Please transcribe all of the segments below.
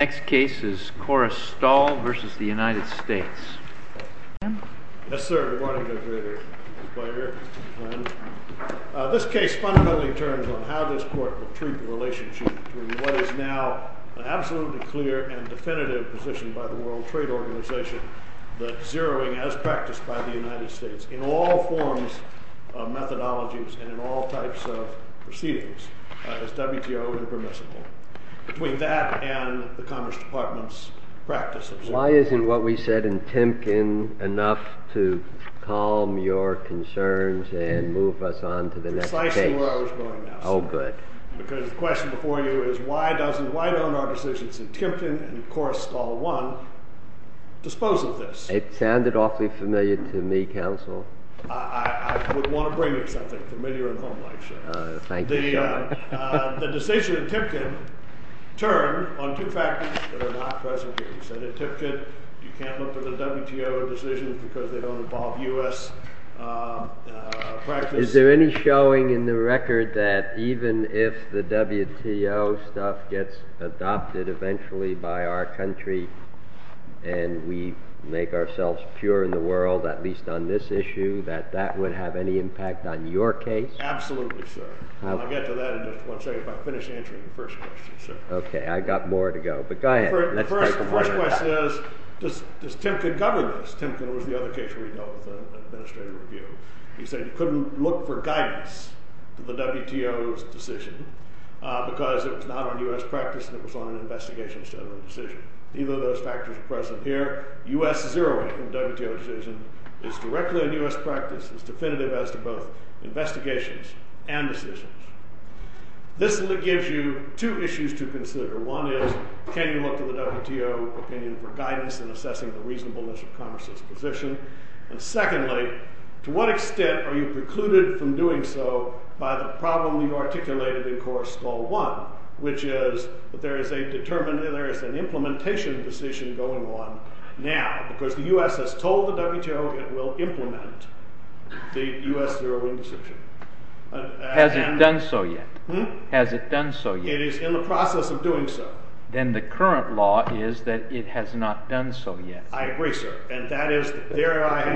Fundamentally, this case turns on how this Court will treat the relationship between what is now an absolutely clear and definitive position by the World Trade Organization that zeroing as practiced by the United States in all forms of methodologies and in all types of proceedings as WTO and permissible, between that and the Commerce Department's practice of zeroing. Why isn't what we said in Timken enough to calm your concerns and move us on to the next case? Precisely where I was going now, sir. Oh, good. Because the question before you is, why don't our decisions in Timken and, of course, Staal I dispose of this? It sounded awfully familiar to me, counsel. I would want to bring you something familiar and homelike, sir. Thank you, sir. The decision in Timken turned on two factors that are not present here. You said in Timken you can't look for the WTO decisions because they don't involve U.S. practice. Is there any showing in the record that even if the WTO stuff gets adopted eventually by our country and we make ourselves pure in the world, at least on this issue, that that would have any impact on your case? Absolutely, sir. I'll get to that in just one second if I finish answering the first question, sir. OK. I've got more to go. But go ahead. The first question is, does Timken govern this? Timken was the other case we dealt with in administrative review. You said you couldn't look for guidance to the WTO's decision because it was not on U.S. practice and it was on an investigation instead of a decision. Neither of those factors are present here. U.S. zeroing the WTO decision is directly on U.S. practice, is definitive as to both investigations and decisions. This gives you two issues to consider. One is, can you look to the WTO opinion for guidance in assessing the reasonableness of Congress's position? And secondly, to what extent are you precluded from doing so by the problem you articulated in Clause 1, which is that there is an implementation decision going on now. Because the U.S. has told the WTO it will implement the U.S. zeroing decision. Has it done so yet? Has it done so yet? It is in the process of doing so. Then the current law is that it has not done so yet. I agree, sir.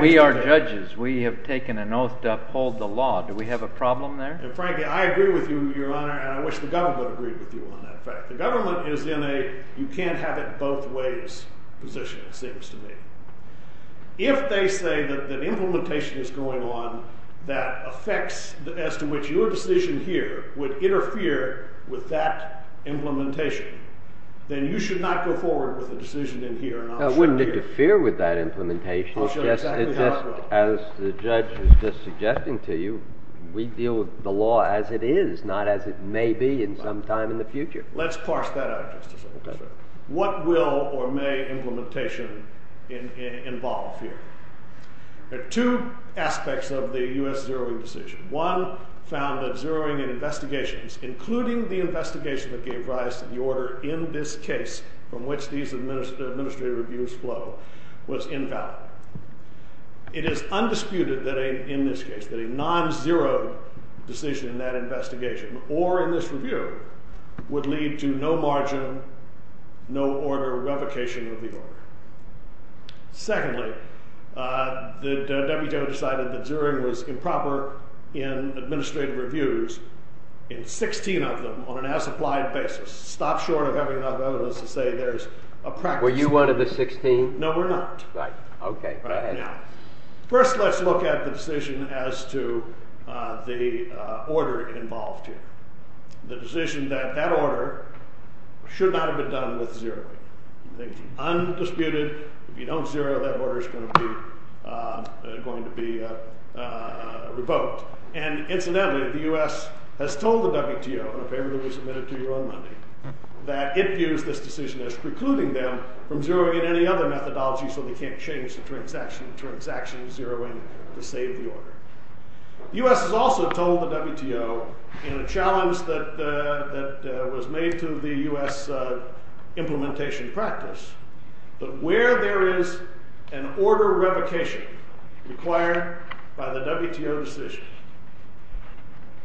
We are judges. We have taken an oath to uphold the law. Do we have a problem there? And frankly, I agree with you, Your Honor, and I wish the government agreed with you on that fact. The government is in a you can't have it both ways position, it seems to me. If they say that implementation is going on that affects as to which your decision here would interfere with that implementation, then you should not go forward with a decision in here. I wouldn't interfere with that implementation. As the judge was just suggesting to you, we deal with the law as it is, not as it may be in some time in the future. Let's parse that out just a second, sir. What will or may implementation involve here? There are two aspects of the U.S. zeroing decision. One, found that zeroing in investigations, including the investigation that gave rise to the order in this case from which these administrative reviews flow, was invalid. It is undisputed that in this case, that a non-zeroed decision in that investigation or in this review would lead to no margin, no order, revocation of the order. Secondly, the WTO decided that zeroing was improper in administrative reviews in 16 of them on an as-applied basis. Stop short of having enough evidence to say there's a practice... Were you one of the 16? No, we're not. Right. Okay, go ahead. First, let's look at the decision as to the order involved here. The decision that that order should not have been done with zeroing. Undisputed, if you don't zero, that order is going to be revoked. And incidentally, the U.S. has told the WTO, in a paper that was submitted to you on Monday, that it views this decision as precluding them from zeroing in any other methodology so they can't change the transaction of zeroing to save the order. The U.S. has also told the WTO, in a challenge that was made to the U.S. implementation practice, that where there is an order revocation required by the WTO decision,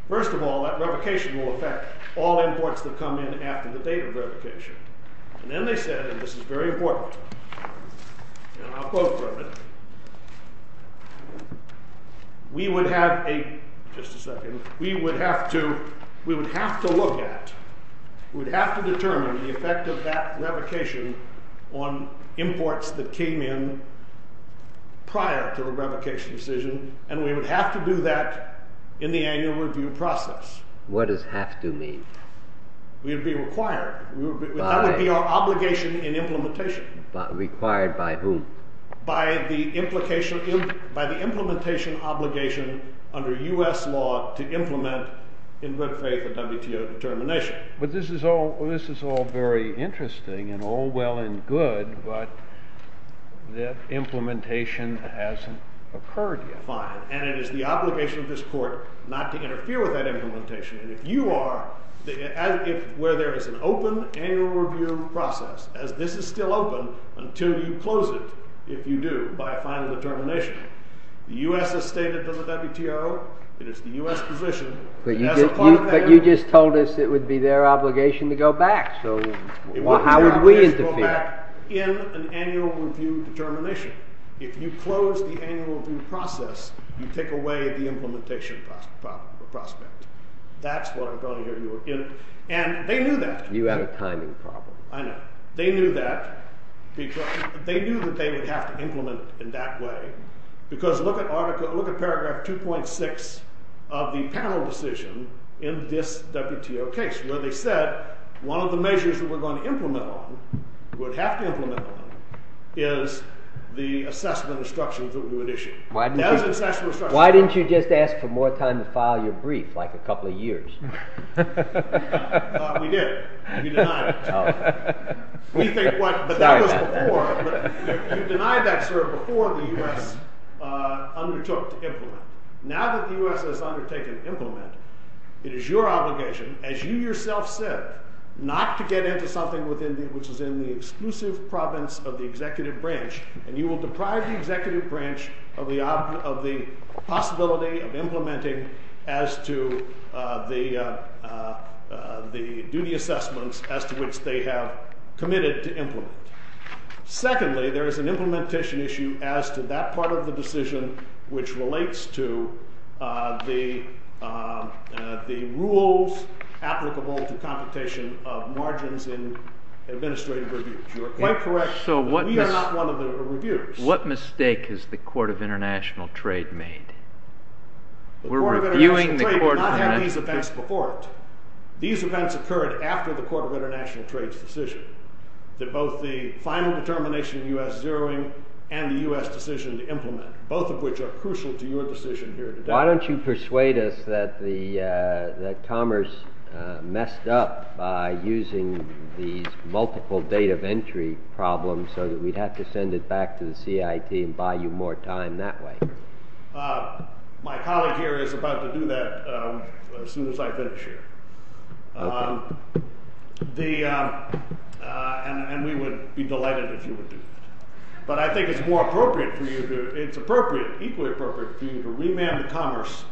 first of all, that revocation will affect all imports that come in after the date of revocation. And then they said, and this is very important, and I'll quote from it, we would have to look at, we would have to determine the effect of that revocation on imports that came in prior to the revocation decision, and we would have to do that in the annual review process. What does have to mean? We would be required. That would be our obligation in implementation. Required by whom? By the implementation obligation under U.S. law to implement in retrograde the WTO determination. But this is all very interesting and all well and good, but the implementation hasn't occurred yet. Fine. And it is the obligation of this Court not to interfere with that implementation. And if you are, where there is an open annual review process, as this is still open, until you close it, if you do, by a final determination. The U.S. has stated to the WTO, it is the U.S. position. But you just told us it would be their obligation to go back, so how would we interfere? It would be our obligation to go back in an annual review determination. If you close the annual review process, you take away the implementation prospect. That's what I'm going to give you. And they knew that. You have a timing problem. I know. They knew that. They knew that they would have to implement in that way. Because look at paragraph 2.6 of the panel decision in this WTO case, where they said one of the measures that we're going to implement on, would have to implement on, is the assessment instructions that we would issue. Why didn't you just ask for more time to file your brief, like a couple of years? We did. We denied it. But that was before. You denied that, sir, before the U.S. undertook to implement. Now that the U.S. has undertaken to implement, it is your obligation, as you yourself said, not to get into something which is in the exclusive province of the executive branch, and you will deprive the executive branch of the possibility of implementing as to the duty assessments as to which they have committed to implement. Secondly, there is an implementation issue as to that part of the decision which relates to the rules applicable to competition of margins in administrative reviews. You are quite correct that we are not one of the reviewers. What mistake has the Court of International Trade made? The Court of International Trade did not have these events before it. These events occurred after the Court of International Trade's decision, that both the final determination of U.S. zeroing and the U.S. decision to implement, both of which are crucial to your decision here today. Why don't you persuade us that Commerce messed up by using these multiple date of entry problems so that we'd have to send it back to the CIT and buy you more time that way? My colleague here is about to do that as soon as I finish here. And we would be delighted if you would do that. But I think it's more appropriate for you to, it's appropriate, equally appropriate, for you to remand Commerce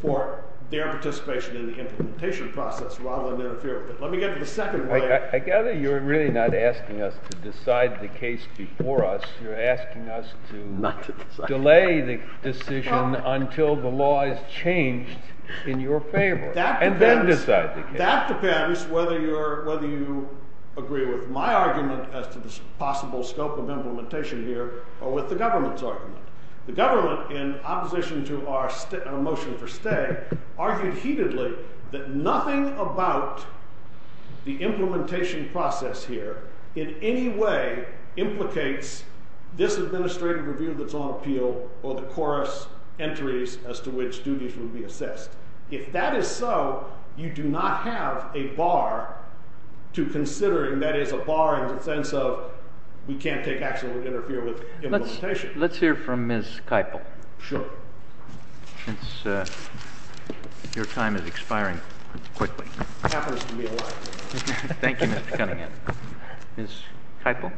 for their participation in the implementation process rather than interfere with it. Let me get to the second way. I gather you're really not asking us to decide the case before us. You're asking us to delay the decision until the law is changed in your favor and then decide the case. That depends whether you agree with my argument as to the possible scope of implementation here or with the government's argument. The government, in opposition to our motion for stay, argued heatedly that nothing about the implementation process here in any way implicates this administrative review that's on appeal or the chorus entries as to which duties would be assessed. If that is so, you do not have a bar to considering. That is a bar in the sense of we can't take action that would interfere with implementation. Let's hear from Ms. Keipel. Sure. Since your time is expiring quickly. Happens to me a lot. Thank you, Mr. Cunningham. Ms. Keipel.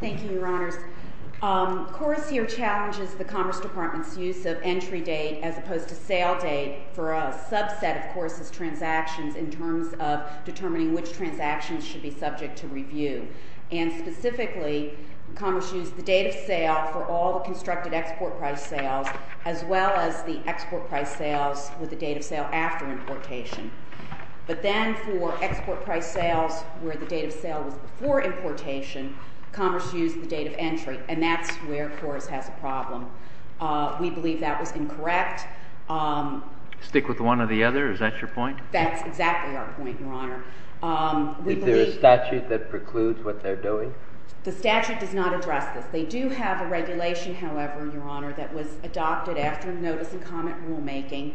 Thank you, Your Honors. The course here challenges the Commerce Department's use of entry date as opposed to sale date for a subset of course's transactions in terms of determining which transactions should be subject to review. And specifically, Commerce used the date of sale for all the constructed export price sales as well as the export price sales with the date of sale after importation. But then for export price sales where the date of sale was before importation, Commerce used the date of entry, and that's where Chorus has a problem. We believe that was incorrect. Stick with one or the other? Is that your point? That's exactly our point, Your Honor. Is there a statute that precludes what they're doing? The statute does not address this. They do have a regulation, however, Your Honor, that was adopted after notice and comment rulemaking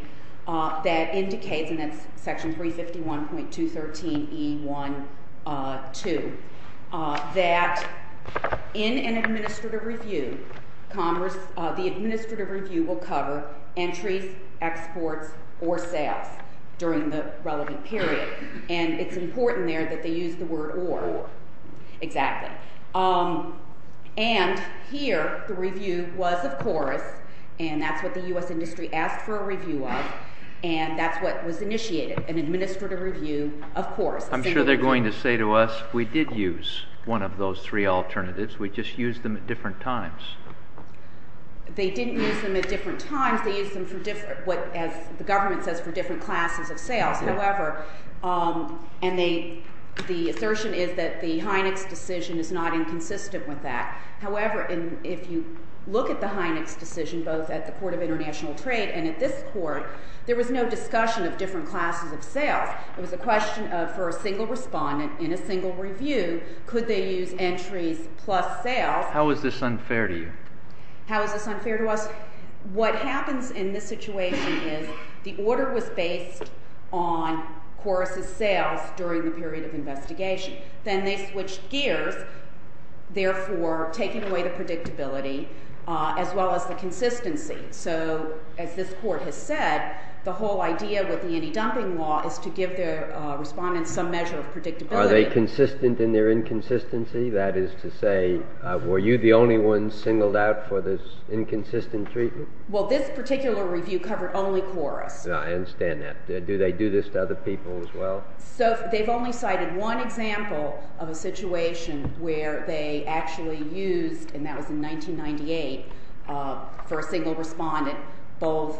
that indicates, and that's Section 351.213E1-2, that in an administrative review, the administrative review will cover entries, exports, or sales during the relevant period. And it's important there that they use the word or. Exactly. And here, the review was, of course, and that's what the U.S. industry asked for a review of, and that's what was initiated, an administrative review, of course. I'm sure they're going to say to us, we did use one of those three alternatives. We just used them at different times. They didn't use them at different times. They used them for different, as the government says, for different classes of sales. However, and the assertion is that the Hynex decision is not inconsistent with that. However, if you look at the Hynex decision, both at the Court of International Trade and at this Court, there was no discussion of different classes of sales. It was a question for a single respondent in a single review, could they use entries plus sales. How is this unfair to you? How is this unfair to us? What happens in this situation is the order was based on Chorus's sales during the period of investigation. Then they switched gears, therefore taking away the predictability as well as the consistency. So as this Court has said, the whole idea with the anti-dumping law is to give the respondents some measure of predictability. Are they consistent in their inconsistency? That is to say, were you the only one singled out for this inconsistent treatment? Well, this particular review covered only Chorus. I understand that. Do they do this to other people as well? So they've only cited one example of a situation where they actually used, and that was in 1998, for a single respondent both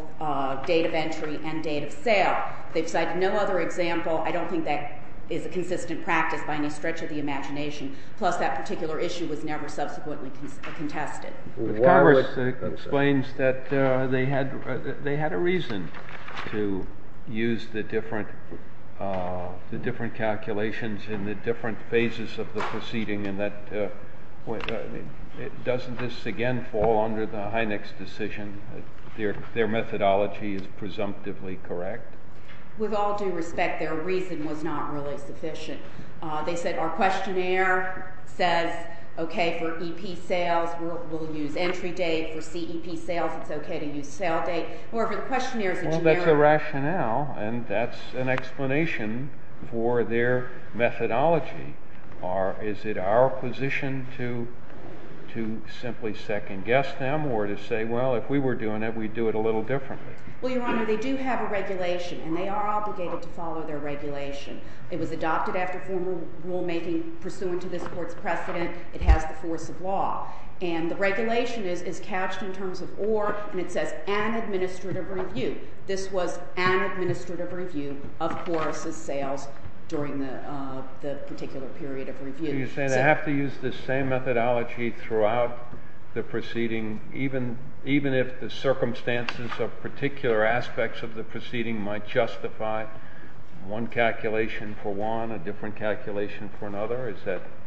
date of entry and date of sale. They've cited no other example. Plus that particular issue was never subsequently contested. Congress explains that they had a reason to use the different calculations in the different phases of the proceeding, and doesn't this again fall under the Hynek's decision, their methodology is presumptively correct? With all due respect, their reason was not really sufficient. They said our questionnaire says, OK, for EP sales, we'll use entry date. For CEP sales, it's OK to use sale date. Or if the questionnaire is a generic- Well, that's a rationale, and that's an explanation for their methodology. Is it our position to simply second guess them or to say, well, if we were doing it, we'd do it a little differently? Well, Your Honor, they do have a regulation, and they are obligated to follow their regulation. It was adopted after former rulemaking pursuant to this Court's precedent. It has the force of law. And the regulation is cached in terms of or, and it says an administrative review. This was an administrative review of Horace's sales during the particular period of review. So you're saying they have to use the same methodology throughout the proceeding, even if the circumstances of particular aspects of the proceeding might justify one calculation for one, a different calculation for another?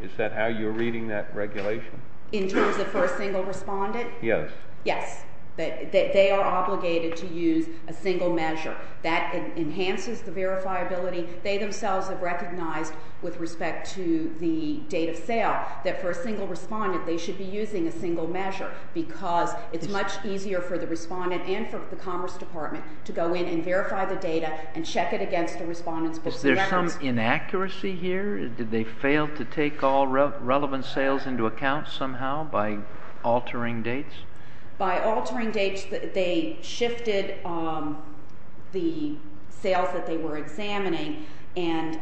Is that how you're reading that regulation? In terms of for a single respondent? Yes. Yes. They are obligated to use a single measure. That enhances the verifiability. They themselves have recognized with respect to the date of sale that for a single respondent, they should be using a single measure, because it's much easier for the respondent and for the Commerce Department to go in and verify the data and check it against the respondent's books of records. Is there some inaccuracy here? Did they fail to take all relevant sales into account somehow by altering dates? By altering dates, they shifted the sales that they were examining. And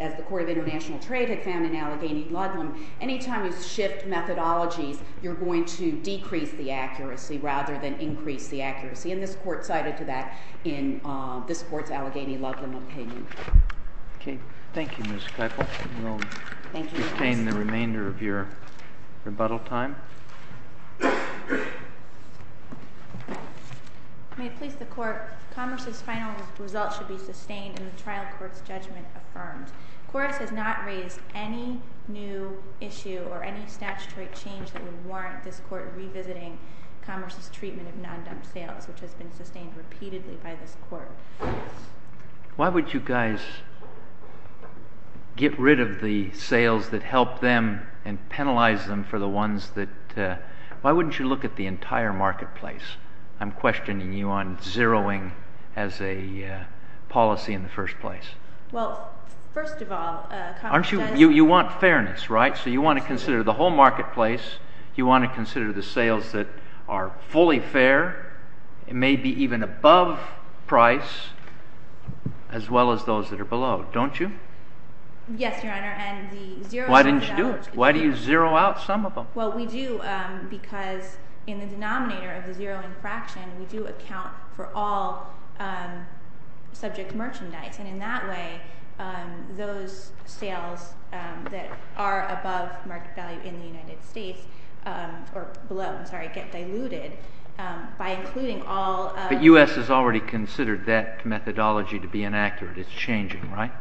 as the Court of International Trade had found in Allegheny Ludlam, any time you shift methodologies, you're going to decrease the accuracy rather than increase the accuracy. And this Court cited to that in this Court's Allegheny Ludlam opinion. OK. Thank you, Ms. Keifel. Thank you. You may retain the remainder of your rebuttal time. May it please the Court, Commerce's final results should be sustained and the trial court's judgment affirmed. Corus has not raised any new issue or any statutory change that would warrant this Court revisiting Commerce's treatment of non-dumped sales, which has been sustained repeatedly by this Court. Why would you guys get rid of the sales that help them and penalize them for the ones that – why wouldn't you look at the entire marketplace? I'm questioning you on zeroing as a policy in the first place. Well, first of all, Aren't you – you want fairness, right? So you want to consider the whole marketplace. You want to consider the sales that are fully fair, maybe even above price, as well as those that are below. Don't you? Yes, Your Honor. Why didn't you do it? Why do you zero out some of them? Well, we do because in the denominator of the zeroing fraction, we do account for all subject merchandise. And in that way, those sales that are above market value in the United States – But U.S. has already considered that methodology to be inaccurate. It's changing, right?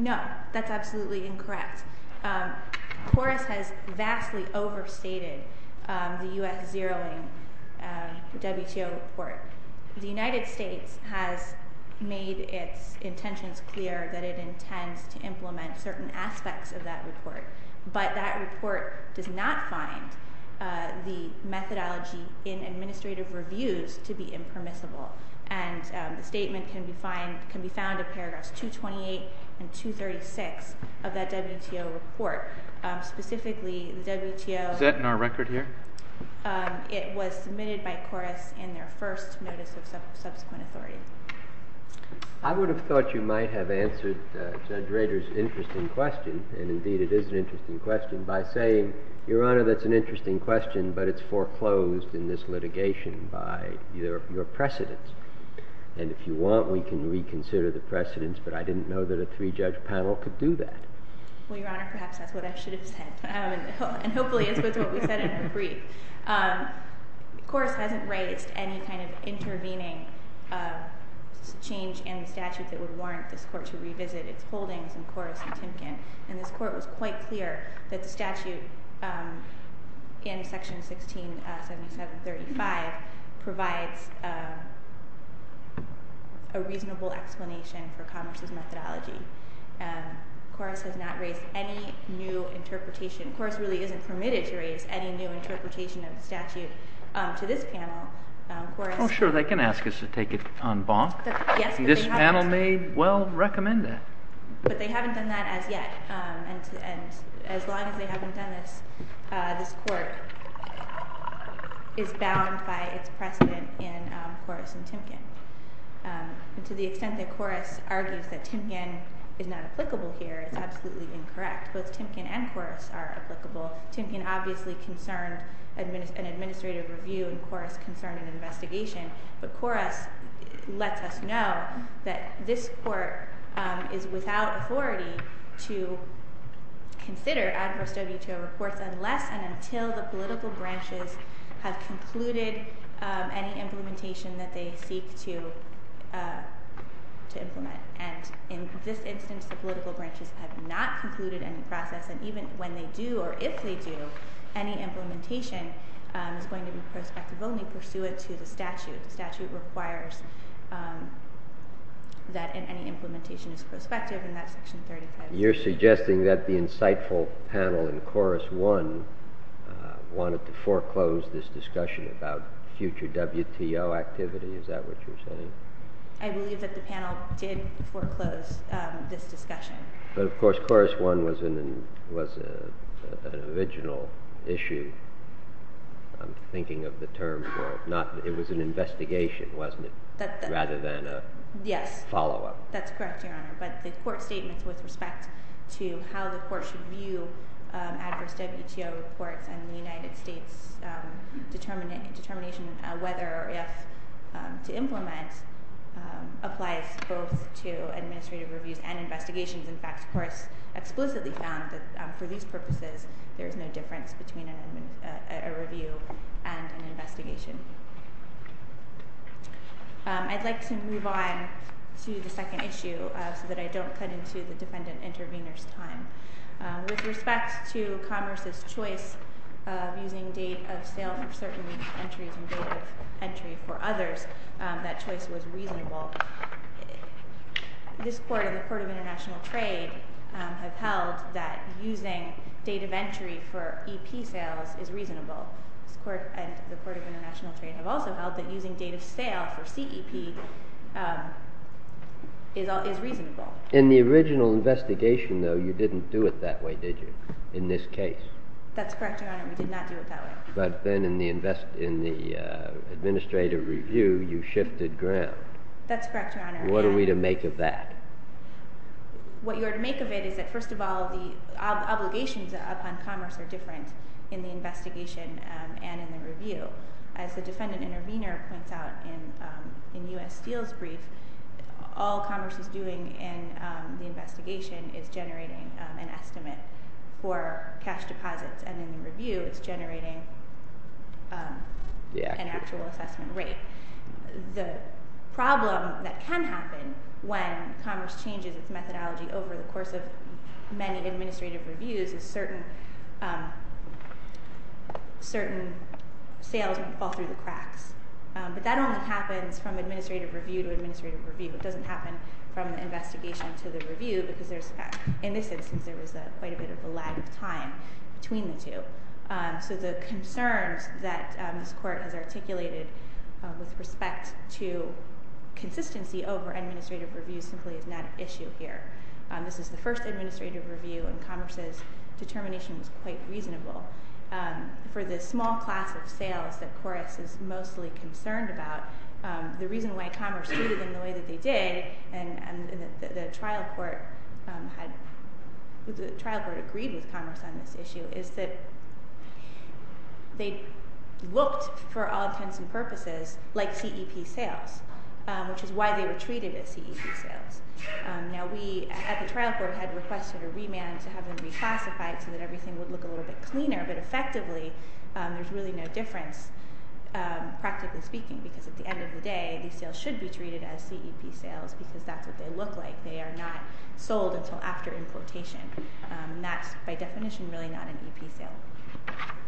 No, that's absolutely incorrect. Corus has vastly overstated the U.S. zeroing WTO report. The United States has made its intentions clear that it intends to implement certain aspects of that report, but that report does not find the methodology in administrative reviews to be impermissible. And the statement can be found in paragraphs 228 and 236 of that WTO report. Specifically, the WTO – Is that in our record here? It was submitted by Corus in their first notice of subsequent authority. I would have thought you might have answered Judge Rader's interesting question, and indeed it is an interesting question, by saying, Your Honor, that's an interesting question, but it's foreclosed in this litigation by your precedents. And if you want, we can reconsider the precedents, but I didn't know that a three-judge panel could do that. Well, Your Honor, perhaps that's what I should have said. And hopefully it's what we said in our brief. Corus hasn't raised any kind of intervening change in the statute that would warrant this Court to revisit its holdings in Corus and Timken. And this Court was quite clear that the statute in Section 167735 provides a reasonable explanation for Congress's methodology. Corus has not raised any new interpretation – Corus really isn't permitted to raise any new interpretation of the statute to this panel. Well, sure, they can ask us to take it en banc. This panel may well recommend that. But they haven't done that as yet. And as long as they haven't done this, this Court is bound by its precedent in Corus and Timken. And to the extent that Corus argues that Timken is not applicable here, it's absolutely incorrect. Both Timken and Corus are applicable. Timken obviously concerned an administrative review, and Corus concerned an investigation. But Corus lets us know that this Court is without authority to consider adverse WTO reports unless and until the political branches have concluded any implementation that they seek to implement. And in this instance, the political branches have not concluded any process. And even when they do, or if they do, any implementation is going to be prospective only pursuant to the statute. The statute requires that any implementation is prospective, and that's Section 35. You're suggesting that the insightful panel in Corus I wanted to foreclose this discussion about future WTO activity. Is that what you're saying? I believe that the panel did foreclose this discussion. But of course, Corus I was an original issue. I'm thinking of the term for it. It was an investigation, wasn't it, rather than a follow-up? Yes. That's correct, Your Honor. But the Court statements with respect to how the Court should view adverse WTO reports and the United States determination whether or if to implement applies both to administrative reviews and investigations. In fact, Corus explicitly found that for these purposes, there's no difference between a review and an investigation. I'd like to move on to the second issue so that I don't cut into the defendant intervener's time. With respect to Congress's choice of using date of sale for certain entries and date of entry for others, that choice was reasonable. This Court and the Court of International Trade have held that using date of entry for EP sales is reasonable. This Court and the Court of International Trade have also held that using date of sale for CEP is reasonable. In the original investigation, though, you didn't do it that way, did you, in this case? That's correct, Your Honor. We did not do it that way. But then in the administrative review, you shifted ground. That's correct, Your Honor. What are we to make of that? What you are to make of it is that, first of all, the obligations upon commerce are different in the investigation and in the review. As the defendant intervener points out in U.S. Steel's brief, all commerce is doing in the investigation is generating an estimate for cash deposits. And in the review, it's generating an actual assessment rate. The problem that can happen when commerce changes its methodology over the course of many administrative reviews is certain sales will fall through the cracks. But that only happens from administrative review to administrative review. It doesn't happen from the investigation to the review because, in this instance, there was quite a bit of a lag of time between the two. So the concerns that this court has articulated with respect to consistency over administrative review simply is not an issue here. This is the first administrative review, and commerce's determination was quite reasonable. For the small class of sales that Correx is mostly concerned about, the reason why commerce treated them the way that they did, and the trial court agreed with commerce on this issue, is that they looked, for all intents and purposes, like CEP sales, which is why they were treated as CEP sales. Now we at the trial court had requested a remand to have them reclassified so that everything would look a little bit cleaner, but effectively there's really no difference, practically speaking, because at the end of the day, these sales should be treated as CEP sales because that's what they look like. They are not sold until after importation. That's, by definition, really not an EP sale.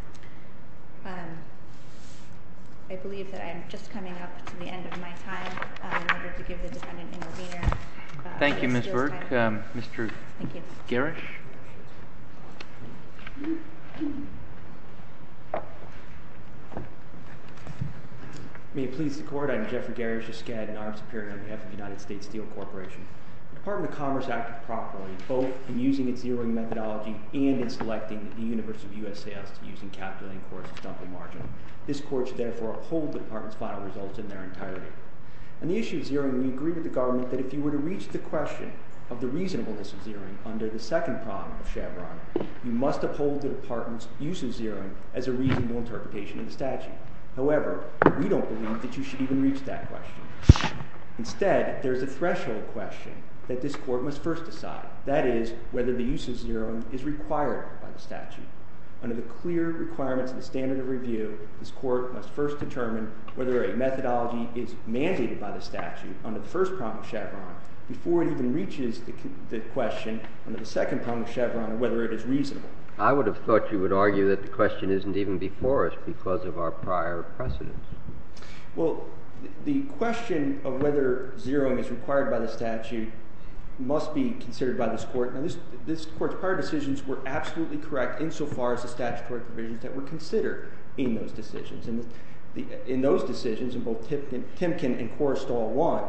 I believe that I am just coming up to the end of my time in order to give the defendant intervener. Thank you, Ms. Berg. Mr. Garish? May it please the court, I am Jeffrey Garish, a Skadden armed superior on behalf of the United States Steel Corporation. The Department of Commerce acted properly, both in using its zeroing methodology and in selecting the universe of U.S. sales using calculating courses, dumping margin. This court should therefore uphold the department's final results in their entirety. On the issue of zeroing, we agree with the government that if you were to reach the question of the reasonableness of zeroing under the second problem of Chevron, you must uphold the department's use of zeroing as a reasonable interpretation of the statute. However, we don't believe that you should even reach that question. Instead, there is a threshold question that this court must first decide. That is, whether the use of zeroing is required by the statute. Under the clear requirements of the standard of review, this court must first determine whether a methodology is mandated by the statute under the first problem of Chevron before it even reaches the question under the second problem of Chevron of whether it is reasonable. I would have thought you would argue that the question isn't even before us because of our prior precedent. Well, the question of whether zeroing is required by the statute must be considered by this court. Now, this court's prior decisions were absolutely correct insofar as the statutory provisions that were considered in those decisions. In those decisions, in both Timken and Korestal 1,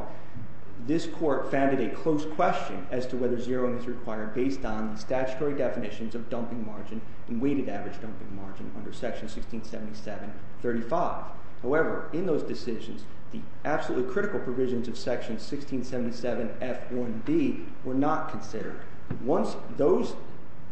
this court founded a close question as to whether zeroing is required based on statutory definitions of dumping margin and weighted average dumping margin under Section 1677.35. However, in those decisions, the absolutely critical provisions of Section 1677.f1d were not considered. Once those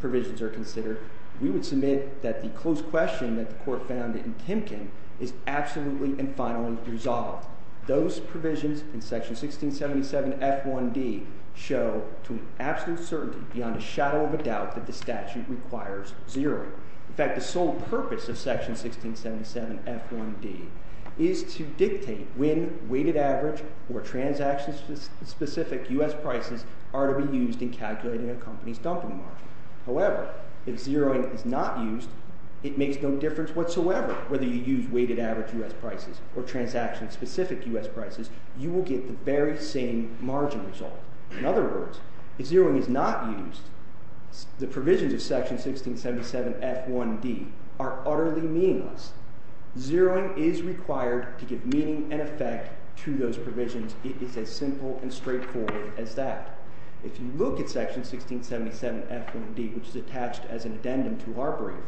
provisions are considered, we would submit that the close question that the court found in Timken is absolutely and finally resolved. Those provisions in Section 1677.f1d show to an absolute certainty, beyond a shadow of a doubt, that the statute requires zeroing. In fact, the sole purpose of Section 1677.f1d is to dictate when weighted average or transaction-specific U.S. prices are to be used in calculating a company's dumping margin. However, if zeroing is not used, it makes no difference whatsoever whether you use weighted average U.S. prices or transaction-specific U.S. prices. You will get the very same margin result. In other words, if zeroing is not used, the provisions of Section 1677.f1d are utterly meaningless. Zeroing is required to give meaning and effect to those provisions. It is as simple and straightforward as that. If you look at Section 1677.f1d, which is attached as an addendum to our brief,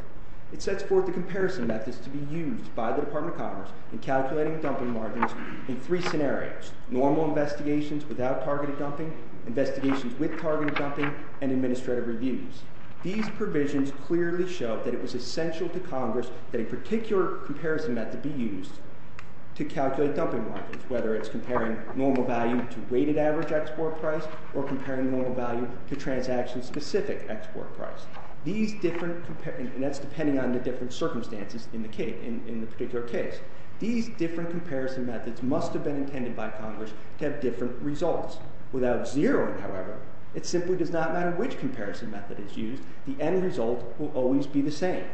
it sets forth the comparison methods to be used by the Department of Commerce in calculating dumping margins in three scenarios. Normal investigations without targeted dumping, investigations with targeted dumping, and administrative reviews. These provisions clearly show that it was essential to Congress that a particular comparison method be used to calculate dumping margins, whether it's comparing normal value to weighted average export price or comparing normal value to transaction-specific export price. These different... And that's depending on the different circumstances in the particular case. These different comparison methods must have been intended by Congress to have different results. Without zeroing, however, it simply does not matter which comparison method is used. The end result will always be the same.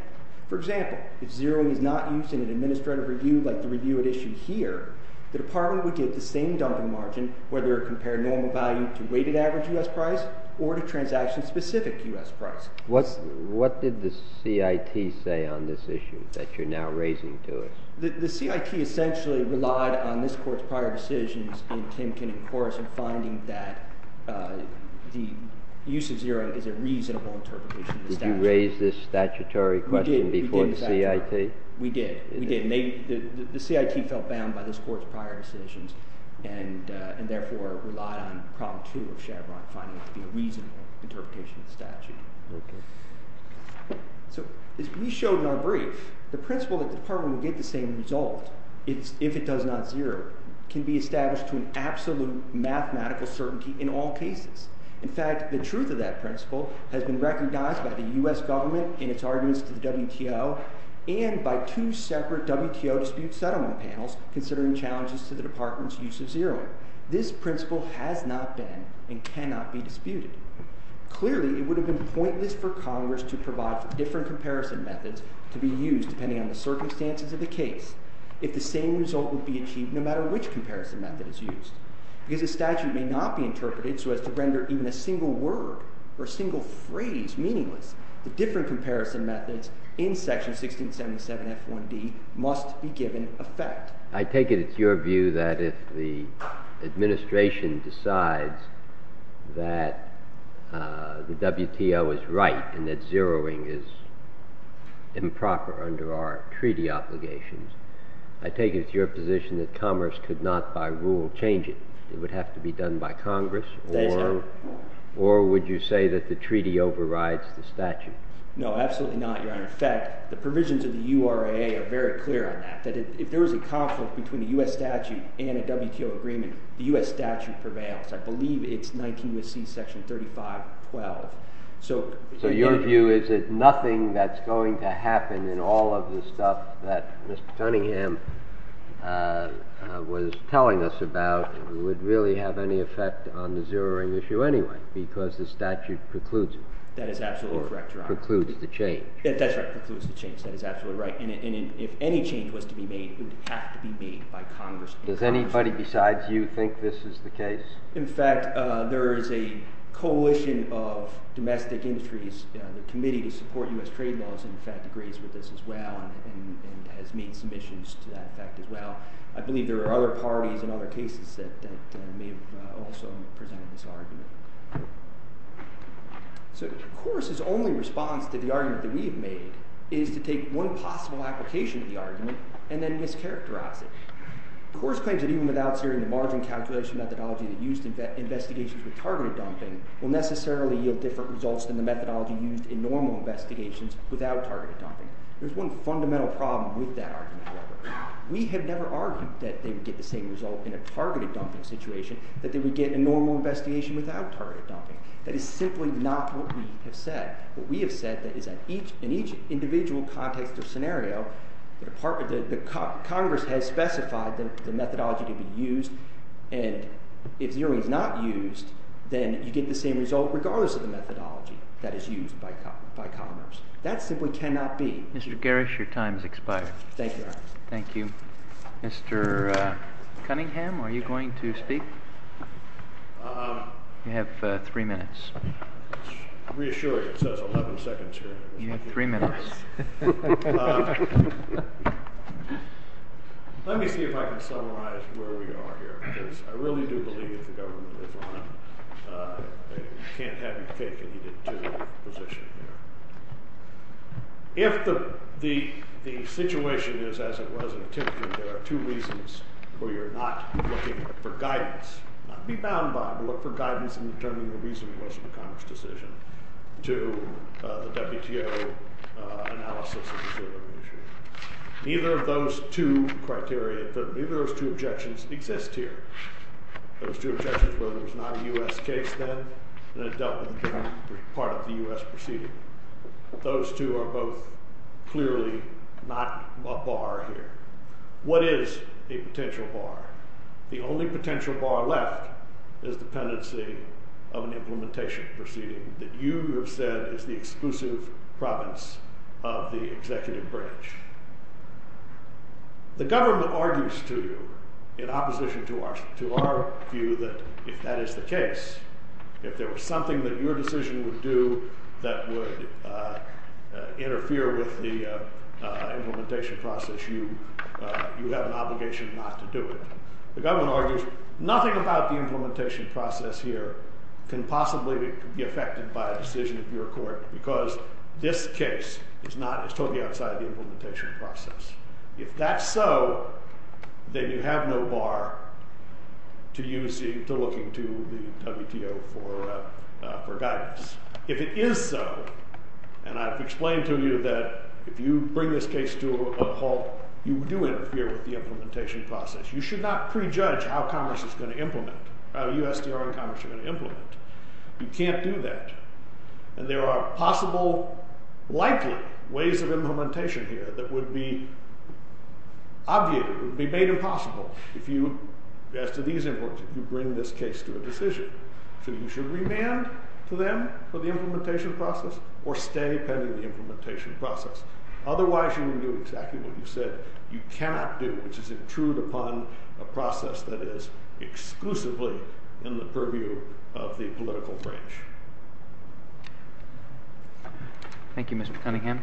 For example, if zeroing is not used in an administrative review like the review at issue here, the department would get the same dumping margin whether it compared normal value to weighted average U.S. price or to transaction-specific U.S. price. What did the CIT say on this issue that you're now raising to us? The CIT essentially relied on this Court's prior decisions in Timken and Corris in finding that the use of zero is a reasonable interpretation of the statute. Did you raise this statutory question before the CIT? We did. The CIT felt bound by this Court's prior decisions and therefore relied on Problem 2 of Chevron finding it to be a reasonable interpretation of the statute. Okay. So as we showed in our brief, the principle that the department will get the same result if it does not zero can be established to an absolute mathematical certainty in all cases. In fact, the truth of that principle has been recognized by the U.S. government in its arguments to the WTO and by two separate WTO dispute settlement panels considering challenges to the department's use of zeroing. This principle has not been and cannot be disputed. Clearly, it would have been pointless for Congress to provide different comparison methods to be used depending on the circumstances of the case if the same result would be achieved no matter which comparison method is used. Because the statute may not be interpreted so as to render even a single word or single phrase meaningless, the different comparison methods in Section 1677 F1D must be given effect. I take it it's your view that if the administration decides that the WTO is right and that it is improper under our treaty obligations, I take it it's your position that commerce could not by rule change it. It would have to be done by Congress or would you say that the treaty overrides the statute? No, absolutely not, your honor. In fact, the provisions of the URA are very clear on that. If there was a conflict between the U.S. statute and a WTO agreement, the U.S. statute prevails. I believe it's 19 U.S.C. Section 3512. So your view is that nothing that's going to happen in all of the stuff that Mr. Cunningham was telling us about would really have any effect on the zeroing issue anyway because the statute precludes it. That is absolutely correct, your honor. Or precludes the change. That's right, precludes the change. That is absolutely right. And if any change was to be made, it would have to be made by Congress. Does anybody besides you think this is the case? In fact, there is a coalition of domestic industries, the committee to support U.S. trade laws, in fact, agrees with us as well and has made submissions to that effect as well. I believe there are other parties and other cases that may have also presented this argument. So, Coors' only response to the argument that we have made is to take one possible application of the argument and then mischaracterize it. Coors claims that even without certain margin calculation methodology that used investigations with targeted dumping will necessarily yield different results than the methodology used in normal investigations without targeted dumping. There's one fundamental problem with that argument, however. We have never argued that they would get the same result in a targeted dumping situation, that they would get a normal investigation without targeted dumping. That is simply not what we have said. What we have said is that in each individual context or scenario, the Congress has specified that the methodology could be used and if zeroing is not used, then you get the same result regardless of the methodology that is used by Congress. That simply cannot be. Mr. Garrish, your time has expired. Thank you. Mr. Cunningham, are you going to speak? You have three minutes. I'm reassured. It says 11 seconds here. You have three minutes. Let me see if I can summarize where we are here. I really do believe the government is wrong. I can't have you take any particular position here. If the situation is as it was in Tifton, there are two reasons where you're not looking for guidance. Be bound by it. Look for guidance in determining the reason for most of the Congress' decision to the WTO analysis of the zeroing initiative. Neither of those two criteria, neither of those two objections exist here. Those two objections were there's not a U.S. case then and it doesn't part of the U.S. proceeding. Those two are both clearly not a bar here. What is a potential bar? The only potential bar left is dependency of an implementation proceeding that you have said is the exclusive province of the executive branch. The government argues to you in opposition to our view that if that is the case, if there was something that your decision would do that would interfere with the implementation process, you have an obligation not to do it. The government argues nothing about the implementation process here can possibly be affected by a decision of your court because this case is totally outside of the implementation process. If that's so, then you have no bar to looking to the WTO for guidance. If it is so, and I've explained to you that if you bring this case to a halt, you do interfere with the implementation process. You should not prejudge how commerce is going to implement, how USDR and commerce are going to implement. You can't do that. And there are possible, likely ways of implementation here that would be obviated, would be made impossible if you bring this case to a decision. So you should remand to them for the implementation process or stay pending the implementation process. Otherwise you can do exactly what you said you cannot do, which is intrude upon a process that is exclusively in the purview of the political branch. Thank you, Mr. Cunningham.